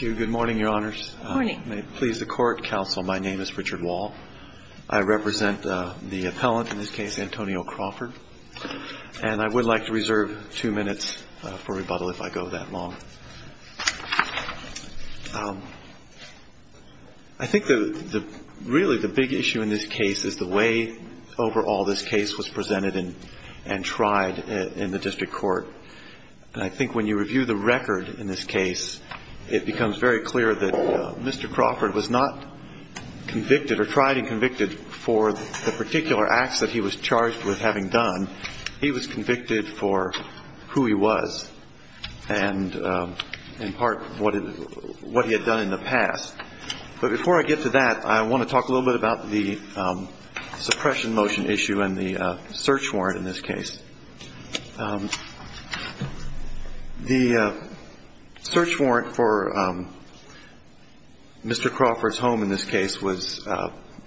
Good morning, Your Honors. May it please the Court, Counsel, my name is Richard Wall. I represent the appellant, in this case, Antonio Crawford. And I would like to reserve two minutes for rebuttal if I go that long. I think really the big issue in this case is the way overall this case was it becomes very clear that Mr. Crawford was not convicted or tried and convicted for the particular acts that he was charged with having done. He was convicted for who he was and, in part, what he had done in the past. But before I get to that, I want to talk a little bit about the suppression motion issue and the search warrant in this case. The search warrant for Mr. Crawford's home, in this case, was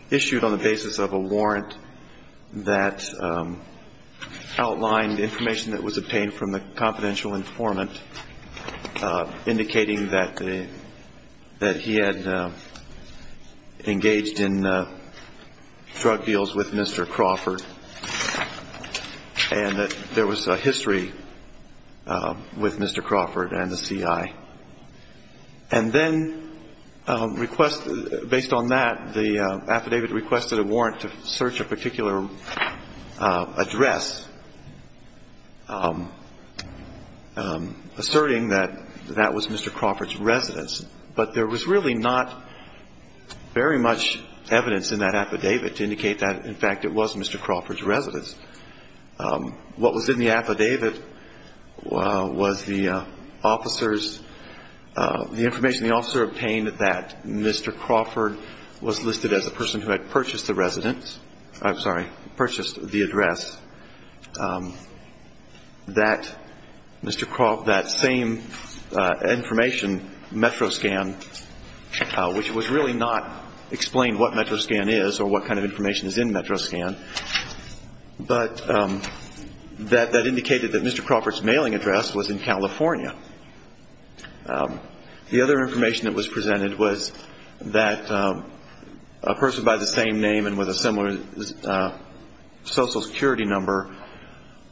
issued on the basis of a warrant that outlined information that was obtained from the confidential informant, indicating that he had engaged in drug deals with Mr. Crawford and that there was a history with Mr. Crawford and the CI. And then based on that, the affidavit requested a warrant to search a particular address, asserting that that was Mr. Crawford's residence. But there was really not very much evidence in that affidavit to indicate that, in fact, it was Mr. Crawford's residence. What was in the affidavit was the officers, the information the officer obtained that Mr. Crawford was listed as the person who had purchased the residence, I'm sorry, purchased the address, that Mr. Crawford, that same information, MetroScan, which was really not explained what MetroScan is or what kind of information is in MetroScan, but that indicated that Mr. Crawford's mailing address was in California. The other information that was presented was that a person by the same name and with a similar Social Security number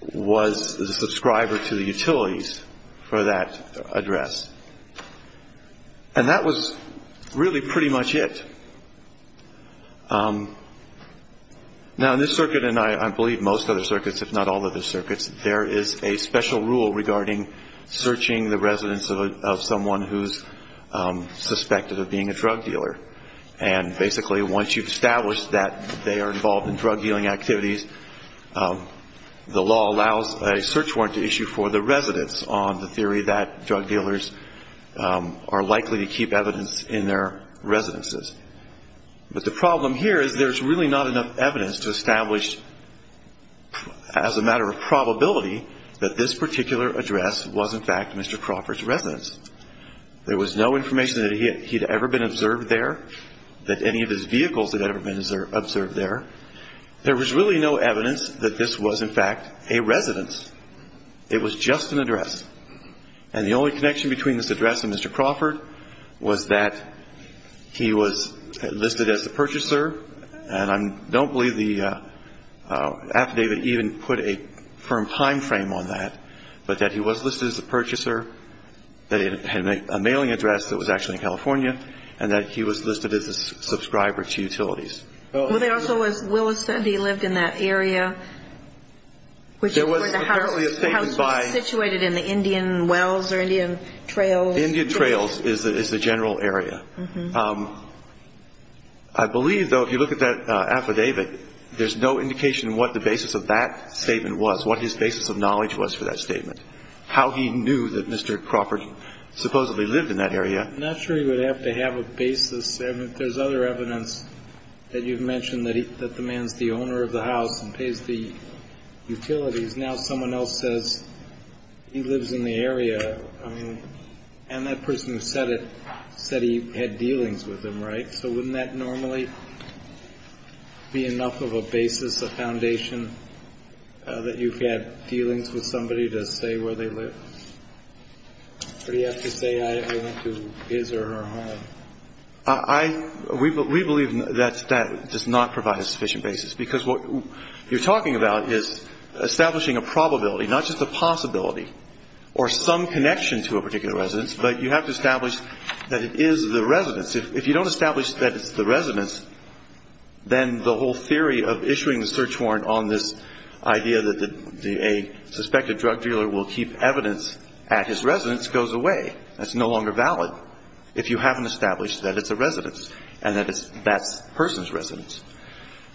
was the subscriber to the utilities for that address. And that was really pretty much it. Now, in this circuit, and I believe most other circuits, if not all other circuits, there is a special rule regarding searching the residence of someone who's suspected of being a drug dealer. And basically, once you've established that they are involved in drug dealing activities, the law allows a search warrant to issue for the residence on the theory that drug dealers are likely to keep evidence in their residences. But the problem here is there's really not enough evidence to establish, as a matter of probability, that this particular address was, in fact, Mr. Crawford's residence. There was no information that he had ever been observed there, that any of his vehicles had ever been observed there. There was really no evidence that this was, in fact, a residence. It was just an address. And the only connection between this address and Mr. Crawford was that he was listed as a purchaser, and I don't believe the affidavit even put a firm time frame on that, but that he was listed as a purchaser, that he had a mailing address that was actually in California, and that he was listed as a subscriber to utilities. Well, there also was, Willis said he lived in that area, which is where the house was situated in the Indian Wells or Indian Trails. Indian Trails is the general area. I believe, though, if you look at that affidavit, there's no indication of what the basis of that statement was, what his basis of knowledge was for that statement, how he knew that Mr. Crawford supposedly lived in that area. I'm not sure he would have to have a basis. There's other evidence that you've mentioned that the man's the owner of the house and pays the utilities. Now someone else says he lives in the area, and that person who said it said he had dealings with him, right? So wouldn't that normally be enough of a basis, a foundation, that you've had dealings with somebody to say where they live? Or do you have to say I went to his or her home? We believe that does not provide a sufficient basis, because what you're talking about is establishing a probability, not just a possibility or some connection to a particular residence, but you have to establish that it is the residence. If you don't establish that it's the residence, then the whole theory of issuing the search warrant on this idea that a suspected drug dealer will keep evidence at his residence goes away. That's no longer valid if you haven't established that it's a residence and that that's the person's residence.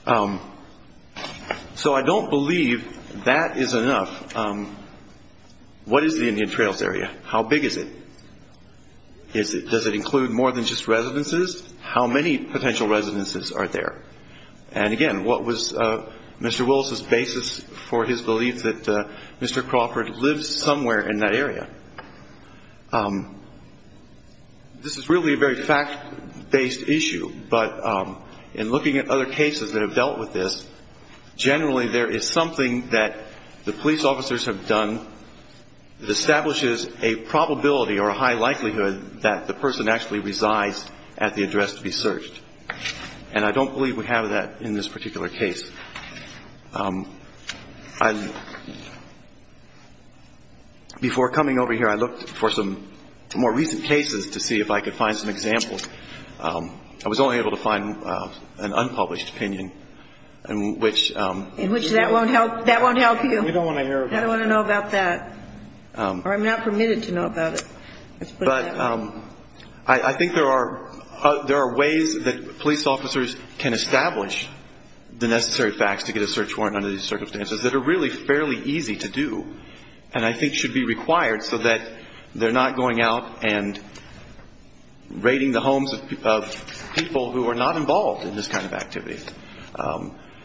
So I don't believe that is enough. What is the Indian Trails area? How big is it? Does it include more than just residences? How many potential residences are there? And again, what was Mr. Willis's basis for his belief that Mr. Crawford lives somewhere in that area? This is really a very fact-based issue, but in looking at other cases that have dealt with this, generally there is something that the police officers have done that establishes a probability or a high likelihood that the person actually resides at the address to be searched. And I don't believe we have that in this particular case. Before coming over here, I looked for some more recent cases to see if I could find some examples. I was only able to find an unpublished opinion in which you don't want to hear about. In which that won't help you. I don't want to know about that. Or I'm not permitted to know about it. But I think there are ways that police officers can establish the necessary evidence and the necessary facts to get a search warrant under these circumstances that are really fairly easy to do and I think should be required so that they're not going out and raiding the homes of people who are not involved in this kind of activity.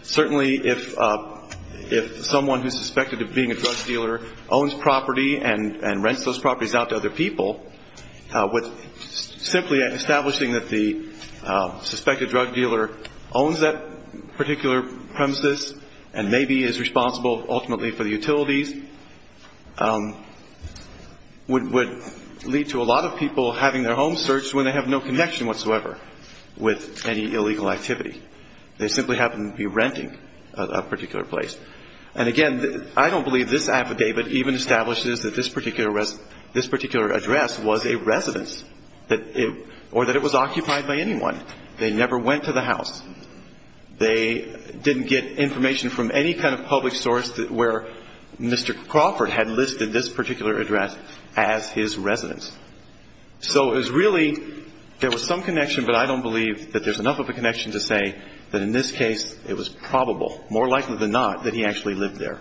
Certainly if someone who's suspected of being a drug dealer owns property and rents those properties out to other people, simply establishing that the suspected drug dealer owns that particular premises and maybe is responsible ultimately for the utilities would lead to a lot of people having their homes searched when they have no connection whatsoever with any illegal activity. They simply happen to be renting a particular place. And again, I don't believe this affidavit even establishes that this particular address was a residence or that it was occupied by anyone. They never went to the house. They didn't get information from any kind of public source where Mr. Crawford had listed this particular address as his residence. So it was really, there was some connection, but I don't believe that there's enough of a connection to say that in this case it was probable, more likely than not, that he actually lived there.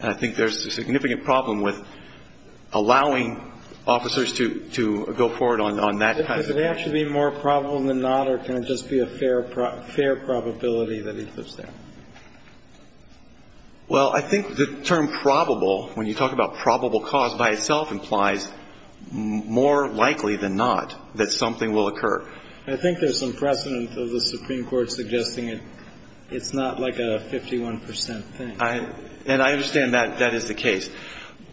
And I think there's a significant problem with allowing officers to go forward on that kind of thing. Could it actually be more probable than not or can it just be a fair probability that he lives there? Well, I think the term probable, when you talk about probable cause by itself, implies more likely than not that something will occur. I think there's some precedent of the Supreme Court suggesting it's not like a 51 percent thing. And I understand that that is the case.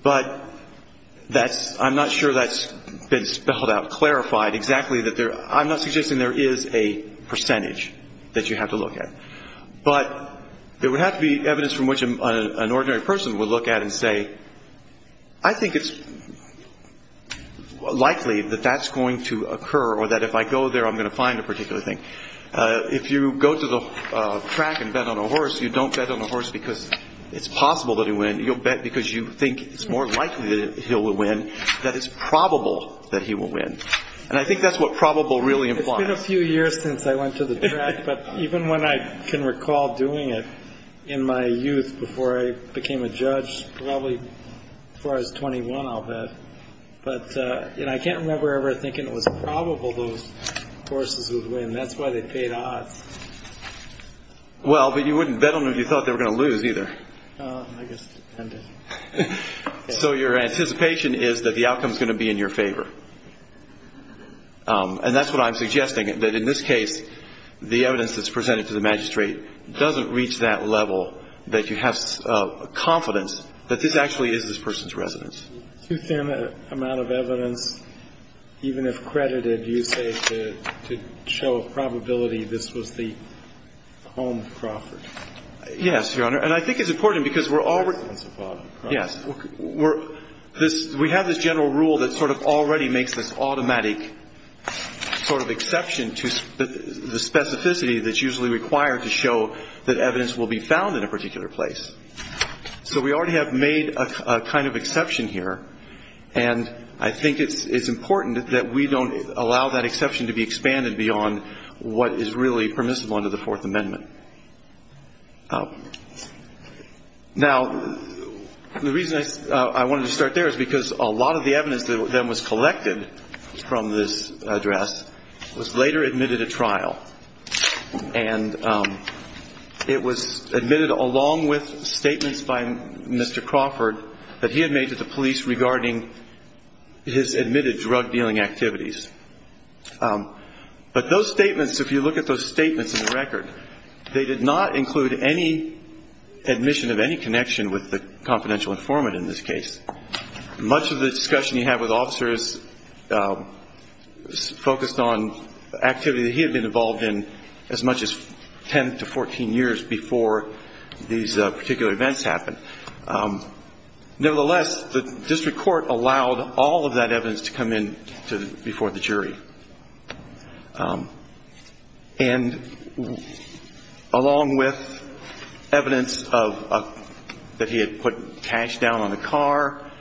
But that's, I'm not sure that's been spelled out, clarified exactly that there, I'm not suggesting there is a percentage that you have to look at. But there would have to be evidence from which an ordinary person would look at and say, I think it's likely that that's going to occur or that if I go there I'm going to find a particular thing. If you go to the track and bet on a horse, you don't bet on a horse because it's possible that he'll win, you'll bet because you think it's more likely that he'll win, that it's probable that he will win. And I think that's what probable really implies. It's been a few years since I went to the track, but even when I can recall doing it in my youth before I became a judge, probably as far as 21, I'll bet. But I can't remember ever thinking it was probable those horses would win. That's why they paid odds. Well, but you wouldn't bet on it if you thought they were going to lose either. So your anticipation is that the outcome is going to be in your favor. And that's what I'm suggesting, that in this case, the evidence that's presented to the magistrate doesn't reach that level that you have confidence that this actually is this person's residence. Too thin an amount of evidence, even if credited, you say to show a probability this was the home of Crawford. Yes, Your Honor. And I think it's important because we're already Yes. We have this general rule that sort of already makes this automatic sort of exception to the specificity that's usually required to show that evidence will be found in a particular place. So we already have made a kind of exception here. And I think it's important that we don't allow that exception to be expanded beyond what is really permissible under the Fourth Amendment. Now, the reason I wanted to start there is because a lot of the evidence that was collected from this address was later admitted to trial. And it was admitted along with statements by Mr. Crawford that he had made to the police regarding his admitted drug dealing activities. But those statements, if you look at those statements in the record, they did not include any admission of any connection with the confidential informant in this case. Much of the discussion you have with officers focused on activity that he had been involved in as much as 10 to 14 years before these particular events happened. Nevertheless, the district court allowed all of that evidence to come in before the jury. And along with evidence that he had put cash down on the car,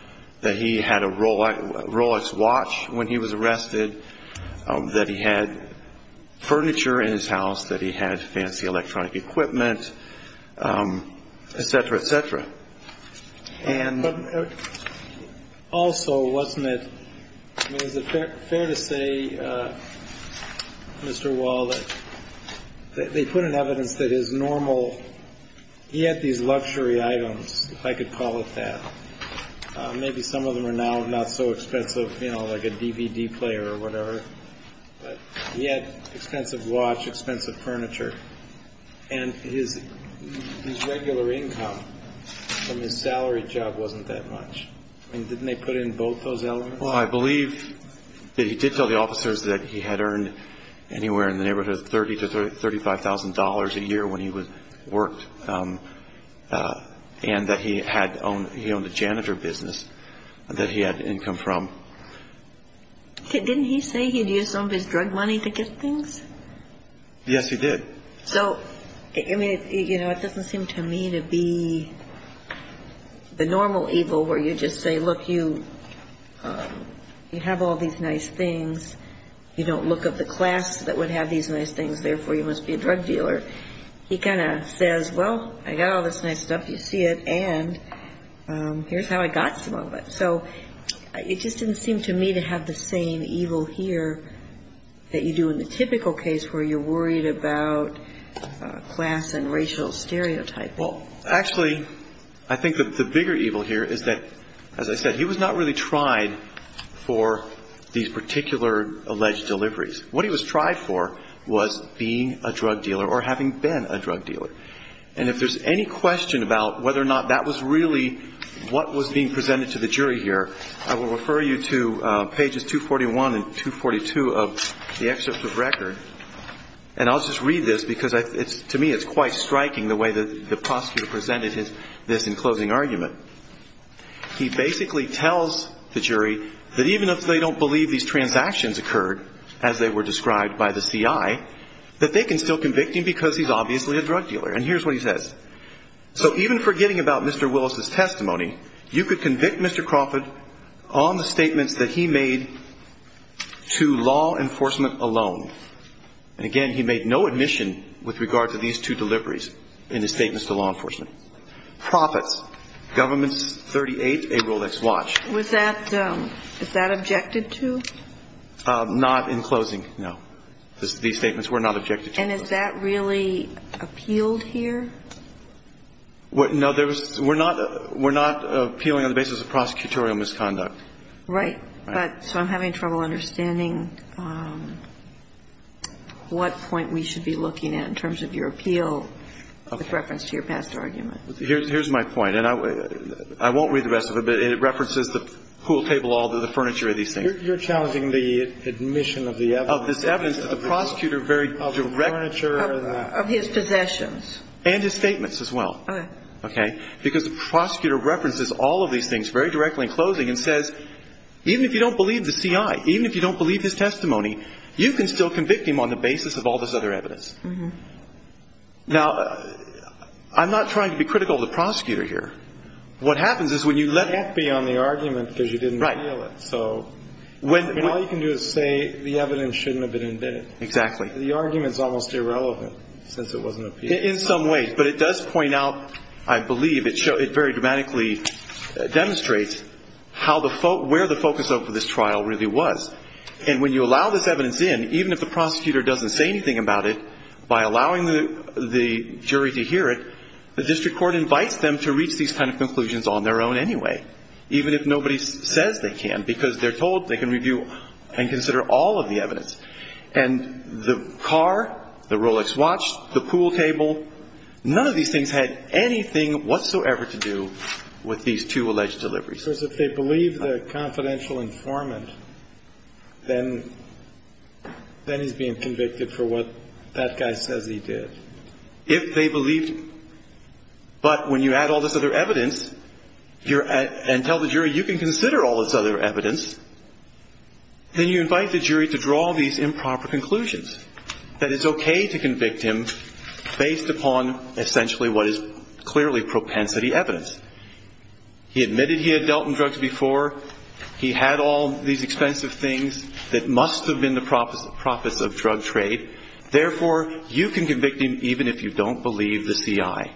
that he had a Rolex watch when he was arrested, that he had furniture in his house, that he had fancy electronic equipment, et cetera, et cetera. And also, wasn't it fair to say, Mr. Wall, that they put in evidence that his normal, he had these luxury items, if I could call it that. Maybe some of them are now not so expensive, like a DVD player or whatever. But he had expensive watch, expensive furniture. And his regular income from his salary job wasn't that much. I mean, didn't they put in both those elements? Well, I believe that he did tell the officers that he had earned anywhere in the neighborhood of $30,000 to $35,000 a year when he worked. And that he owned a janitor business that he had income from. Didn't he say he'd used some of his drug money to get things? Yes, he did. So, I mean, it doesn't seem to me to be the normal evil where you just say, look, you have all these nice things. You don't look up the class that would have these nice things. Therefore, you must be a drug dealer. He kind of says, well, I got all this nice stuff. You see it. And here's how I got some of it. So it just didn't seem to me to have the same evil here that you do in the typical case where you're worried about class and racial stereotyping. Well, actually, I think the bigger evil here is that, as I said, he was not really tried for these particular alleged deliveries. What he was tried for was being a drug dealer or having been a drug dealer. And if there's any question about whether or not that was really what was being presented to the jury here, I will refer you to pages 241 and 242 of the excerpt of record. And I'll just read this because to me it's quite striking the way the prosecutor presented this in closing argument. He basically tells the jury that even if they don't believe these transactions occurred, as they were described by the CI, that they can still convict him because he's obviously a drug dealer. And here's what he says. So even forgetting about Mr. Willis's testimony, you could convict Mr. Crawford on the statements that he made to law enforcement alone. And, again, he made no admission with regard to these two deliveries in his statements to law enforcement. Profits. Government's 38, a Rolex watch. Was that – is that objected to? Not in closing, no. These statements were not objected to. And is that really appealed here? No, there was – we're not appealing on the basis of prosecutorial misconduct. Right. So I'm having trouble understanding what point we should be looking at in terms of your appeal with reference to your past arguments. Here's my point, and I won't read the rest of it, but it references the pool table, all the furniture of these things. You're challenging the admission of the evidence. Of this evidence that the prosecutor very directly – Of the furniture. Of his possessions. And his statements as well. Okay. Because the prosecutor references all of these things very directly in closing and says even if you don't believe the CI, even if you don't believe his testimony, you can still convict him on the basis of all this other evidence. Mm-hmm. Now, I'm not trying to be critical of the prosecutor here. What happens is when you let – You can't be on the argument because you didn't appeal it. Right. So all you can do is say the evidence shouldn't have been admitted. Exactly. The argument is almost irrelevant since it wasn't appealed. In some ways. But it does point out, I believe, it very dramatically demonstrates how the – where the focus of this trial really was. And when you allow this evidence in, even if the prosecutor doesn't say anything about it, by allowing the jury to hear it, the district court invites them to reach these kind of conclusions on their own anyway. Even if nobody says they can. Because they're told they can review and consider all of the evidence. And the car, the Rolex watch, the pool table, none of these things had anything whatsoever to do with these two alleged deliveries. So if they believe the confidential informant, then he's being convicted for what that guy says he did. If they believed, but when you add all this other evidence and tell the jury you can consider all this other evidence, then you invite the jury to draw these improper conclusions. That it's okay to convict him based upon essentially what is clearly propensity evidence. He admitted he had dealt in drugs before. He had all these expensive things that must have been the profits of drug trade. Therefore, you can convict him even if you don't believe the CI.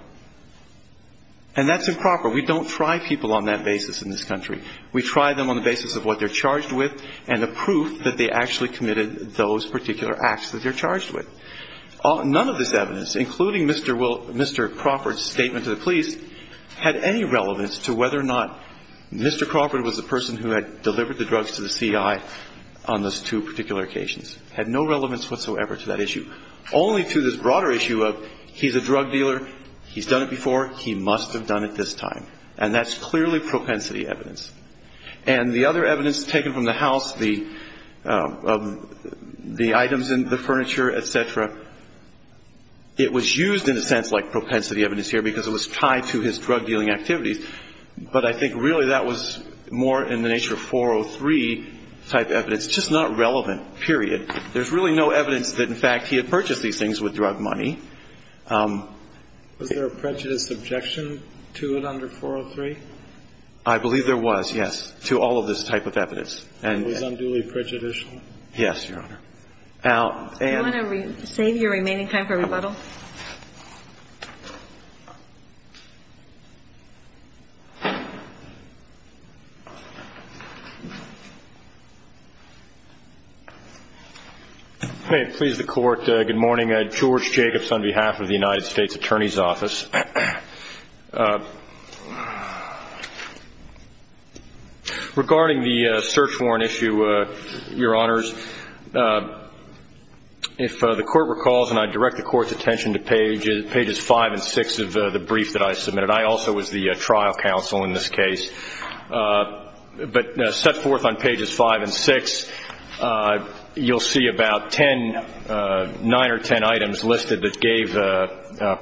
And that's improper. We don't try people on that basis in this country. We try them on the basis of what they're charged with and the proof that they actually committed those particular acts that they're charged with. None of this evidence, including Mr. Crawford's statement to the police, had any relevance to whether or not Mr. Crawford was the person who had delivered the drugs to the CI on those two particular occasions. Had no relevance whatsoever to that issue. Only to this broader issue of he's a drug dealer. He's done it before. He must have done it this time. And that's clearly propensity evidence. And the other evidence taken from the house, the items in the furniture, et cetera, it was used in a sense like propensity evidence here because it was tied to his drug dealing activities. But I think really that was more in the nature of 403 type evidence. Just not relevant. There's really no evidence that, in fact, he had purchased these things with drug money. Was there a prejudice objection to it under 403? I believe there was, yes, to all of this type of evidence. And it was unduly prejudicial? Yes, Your Honor. Do you want to save your remaining time for rebuttal? May it please the Court, good morning. Regarding the search warrant issue, Your Honors, if the Court recalls, and I direct the Court's attention to pages 5 and 6 of the brief that I submitted. I also was the trial counsel in this case. But set forth on pages 5 and 6, you'll see about nine or ten items listed that gave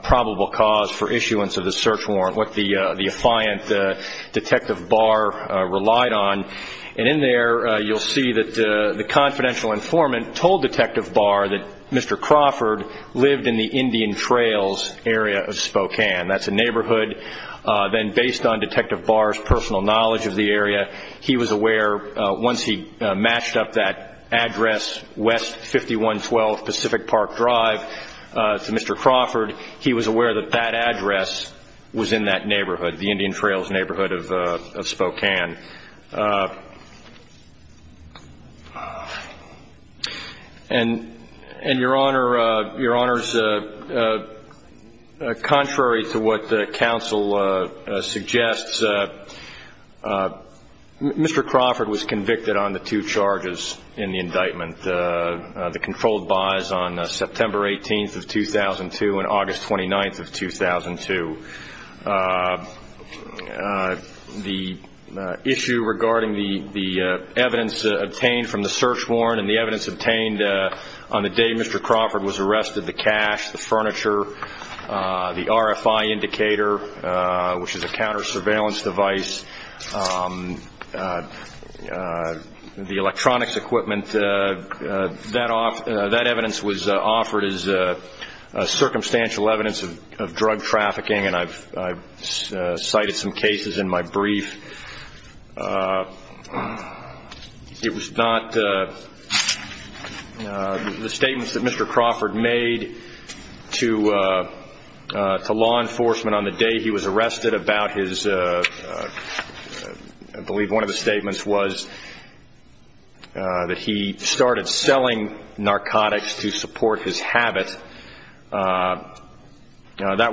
probable cause for issuance of the search warrant, what the defiant Detective Barr relied on. And in there, you'll see that the confidential informant told Detective Barr that Mr. Crawford lived in the Indian Trails area of Spokane. That's a neighborhood. Then based on Detective Barr's personal knowledge of the area, he was aware, once he matched up that address, West 5112 Pacific Park Drive, to Mr. Crawford, he was aware that that address was in that neighborhood, the Indian Trails neighborhood of Spokane. And, Your Honors, contrary to what the counsel suggests, Mr. Crawford was convicted on the two charges in the indictment, the controlled buys on September 18th of 2002 and August 29th of 2002. The issue regarding the evidence obtained from the search warrant and the evidence obtained on the day Mr. Crawford was arrested, the cash, the furniture, the RFI indicator, which is a counter-surveillance device, the electronics equipment, that evidence was offered as circumstantial evidence of drug trafficking, and I've cited some cases in my brief. It was not the statements that Mr. Crawford made to law enforcement on the day he was arrested about his, I believe one of the statements was that he started selling narcotics to support his habit. That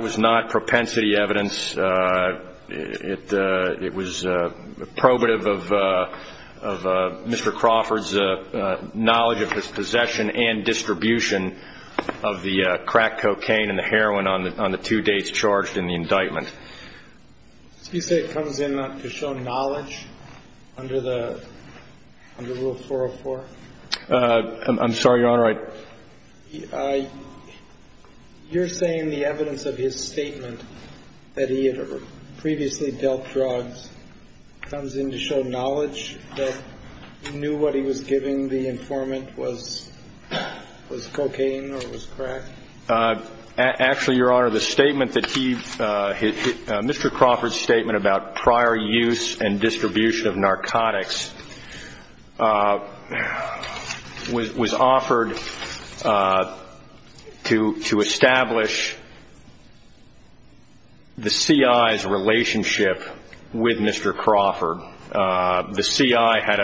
was not propensity evidence. It was probative of Mr. Crawford's knowledge of his possession and distribution of the crack cocaine and the heroin on the two dates charged in the indictment. You say it comes in to show knowledge under Rule 404? I'm sorry, Your Honor, I... You're saying the evidence of his statement that he had previously dealt drugs comes in to show knowledge that he knew what he was giving the informant was cocaine or was crack? Actually, Your Honor, the statement that he... Mr. Crawford's statement about prior use and distribution of narcotics was offered to establish the CI's relationship with Mr. Crawford. The CI had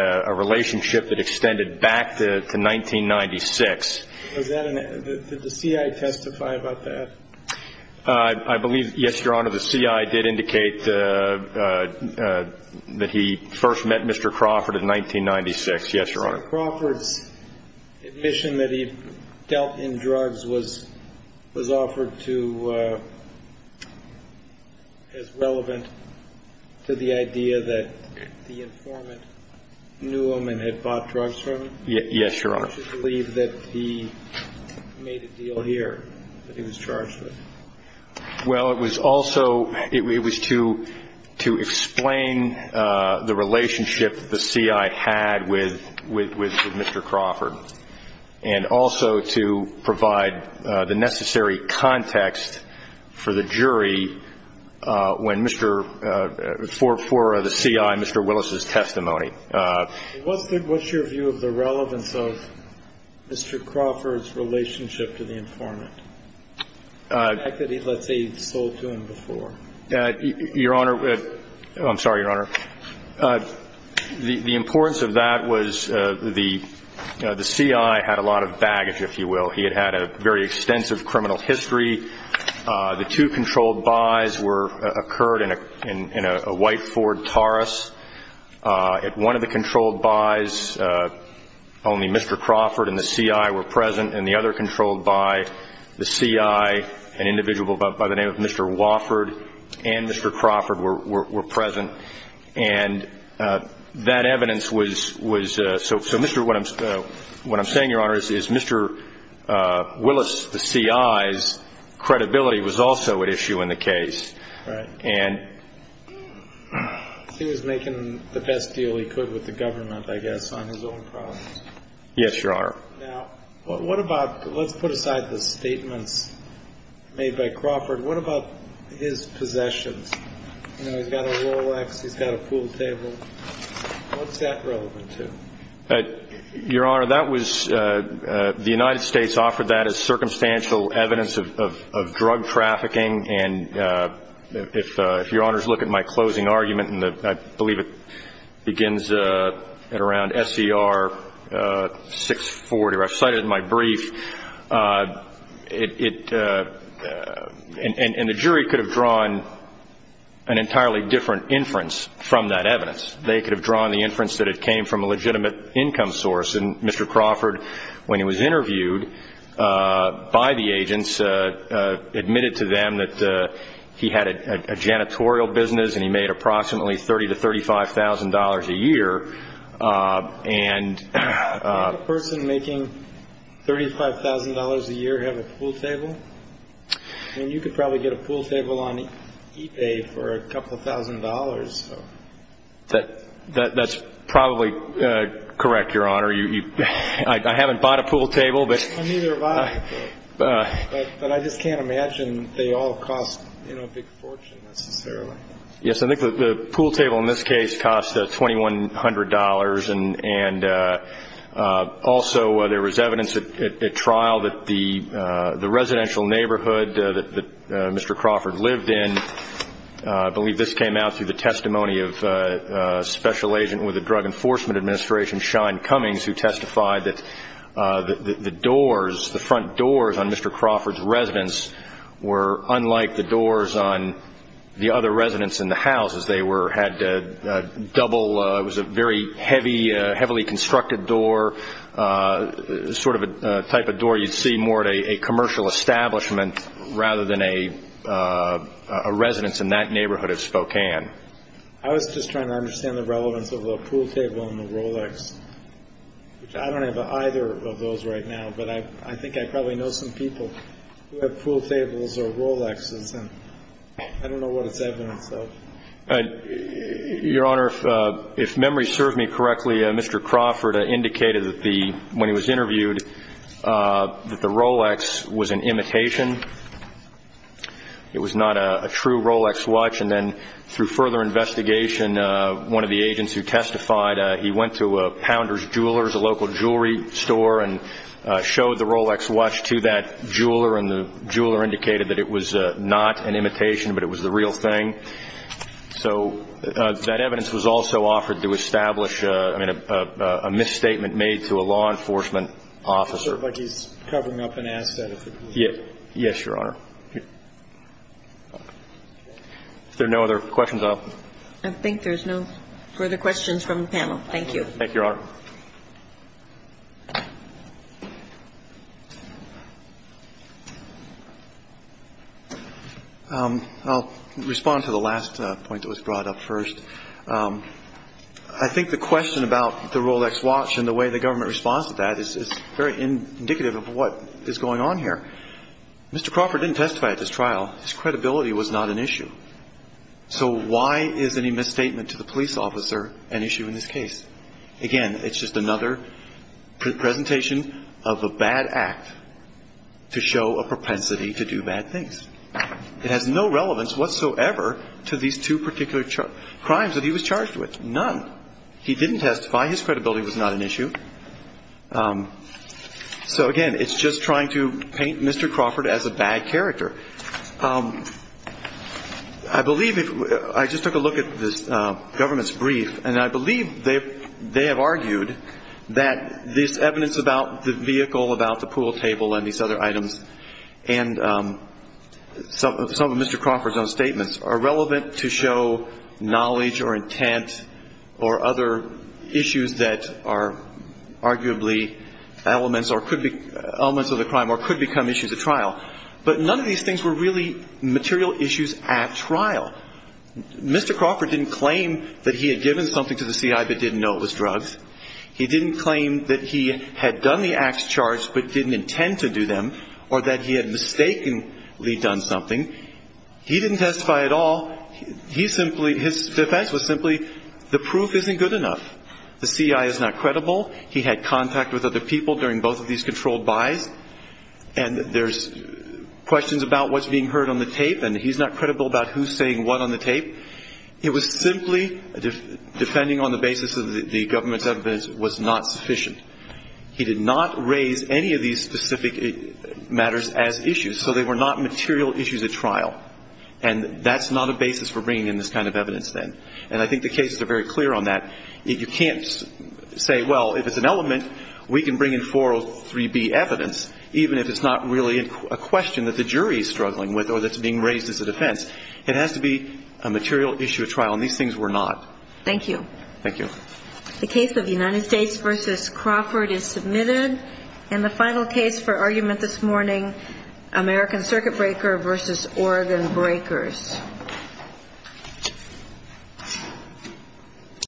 a relationship that extended back to 1996. Did the CI testify about that? I believe, yes, Your Honor, the CI did indicate that he first met Mr. Crawford in 1996. Yes, Your Honor. Mr. Crawford's admission that he dealt in drugs was offered to... as relevant to the idea that the informant knew him and had bought drugs from him? Yes, Your Honor. I believe that he made a deal here that he was charged with. Well, it was also to explain the relationship the CI had with Mr. Crawford and also to provide the necessary context for the CI and Mr. Willis's testimony. What's your view of the relevance of Mr. Crawford's relationship to the informant? The fact that he, let's say, sold to him before? Your Honor, I'm sorry, Your Honor. The importance of that was the CI had a lot of baggage, if you will. He had had a very extensive criminal history. The two controlled buys occurred in a white Ford Taurus. At one of the controlled buys, only Mr. Crawford and the CI were present, and the other controlled buy, the CI, an individual by the name of Mr. Wofford, and Mr. Crawford were present. And that evidence was so Mr. Willis, what I'm saying, Your Honor, is Mr. Willis, the CI's credibility was also at issue in the case. Right. He was making the best deal he could with the government, I guess, on his own problems. Yes, Your Honor. Now, what about, let's put aside the statements made by Crawford. What about his possessions? You know, he's got a Rolex, he's got a pool table. What's that relevant to? Your Honor, that was, the United States offered that as circumstantial evidence of drug trafficking, and if Your Honors look at my closing argument, and I believe it begins at around SCR 640, or I've cited it in my brief, and the jury could have drawn an entirely different inference from that evidence. They could have drawn the inference that it came from a legitimate income source, and Mr. Crawford, when he was interviewed by the agents, admitted to them that he had a janitorial business and he made approximately $30,000 to $35,000 a year. Did a person making $35,000 a year have a pool table? I mean, you could probably get a pool table on ePay for a couple thousand dollars. That's probably correct, Your Honor. I haven't bought a pool table. I neither have either. But I just can't imagine they all cost, you know, a big fortune necessarily. Yes. I think the pool table in this case cost $2,100, and also there was evidence at trial that the residential neighborhood that Mr. Crawford lived in, I believe this came out through the testimony of a special agent with the Drug Enforcement Administration, Shine Cummings, who testified that the doors, the front doors on Mr. Crawford's residence were unlike the doors on the other residents in the house, as they had double, it was a very heavy, heavily constructed door, sort of a type of door you'd see more at a commercial establishment rather than a residence in that neighborhood of Spokane. I was just trying to understand the relevance of the pool table and the Rolex, which I don't have either of those right now, but I think I probably know some people who have pool tables or Rolexes, and I don't know what it's evidence of. Your Honor, if memory serves me correctly, Mr. Crawford indicated that when he was interviewed that the Rolex was an imitation. It was not a true Rolex watch, and then through further investigation, one of the agents who testified, he went to Pounder's Jewelers, a local jewelry store, and showed the Rolex watch to that jeweler, and the jeweler indicated that it was not an imitation, but it was the real thing. So that evidence was also offered to establish a misstatement made to a law enforcement officer. It looks like he's covering up an asset. Yes, Your Honor. Is there no other questions? I think there's no further questions from the panel. Thank you. Thank you, Your Honor. I'll respond to the last point that was brought up first. I think the question about the Rolex watch and the way the government responds to that is very indicative of what is going on here. Mr. Crawford didn't testify at this trial. His credibility was not an issue. So why is any misstatement to the police officer an issue in this case? Again, it's just another presentation of a bad act to show a propensity to do bad things. It has no relevance whatsoever to these two particular crimes that he was charged with, none. He didn't testify. His credibility was not an issue. So, again, it's just trying to paint Mr. Crawford as a bad character. I just took a look at this government's brief, and I believe they have argued that this evidence about the vehicle, about the pool table and these other items, and some of Mr. Crawford's own statements are relevant to show knowledge or intent or other issues that are arguably elements of the crime or could become issues at trial. But none of these things were really material issues at trial. Mr. Crawford didn't claim that he had given something to the CI but didn't know it was drugs. He didn't claim that he had done the acts charged but didn't intend to do them or that he had mistakenly done something. He didn't testify at all. His defense was simply the proof isn't good enough. The CI is not credible. He had contact with other people during both of these controlled buys. And there's questions about what's being heard on the tape, and he's not credible about who's saying what on the tape. It was simply, depending on the basis of the government's evidence, was not sufficient. He did not raise any of these specific matters as issues. So they were not material issues at trial. And that's not a basis for bringing in this kind of evidence then. And I think the cases are very clear on that. You can't say, well, if it's an element, we can bring in 403B evidence, even if it's not really a question that the jury is struggling with or that's being raised as a defense. It has to be a material issue at trial, and these things were not. Thank you. Thank you. The case of United States v. Crawford is submitted. And the final case for argument this morning, American Circuit Breaker v. Oregon Breakers.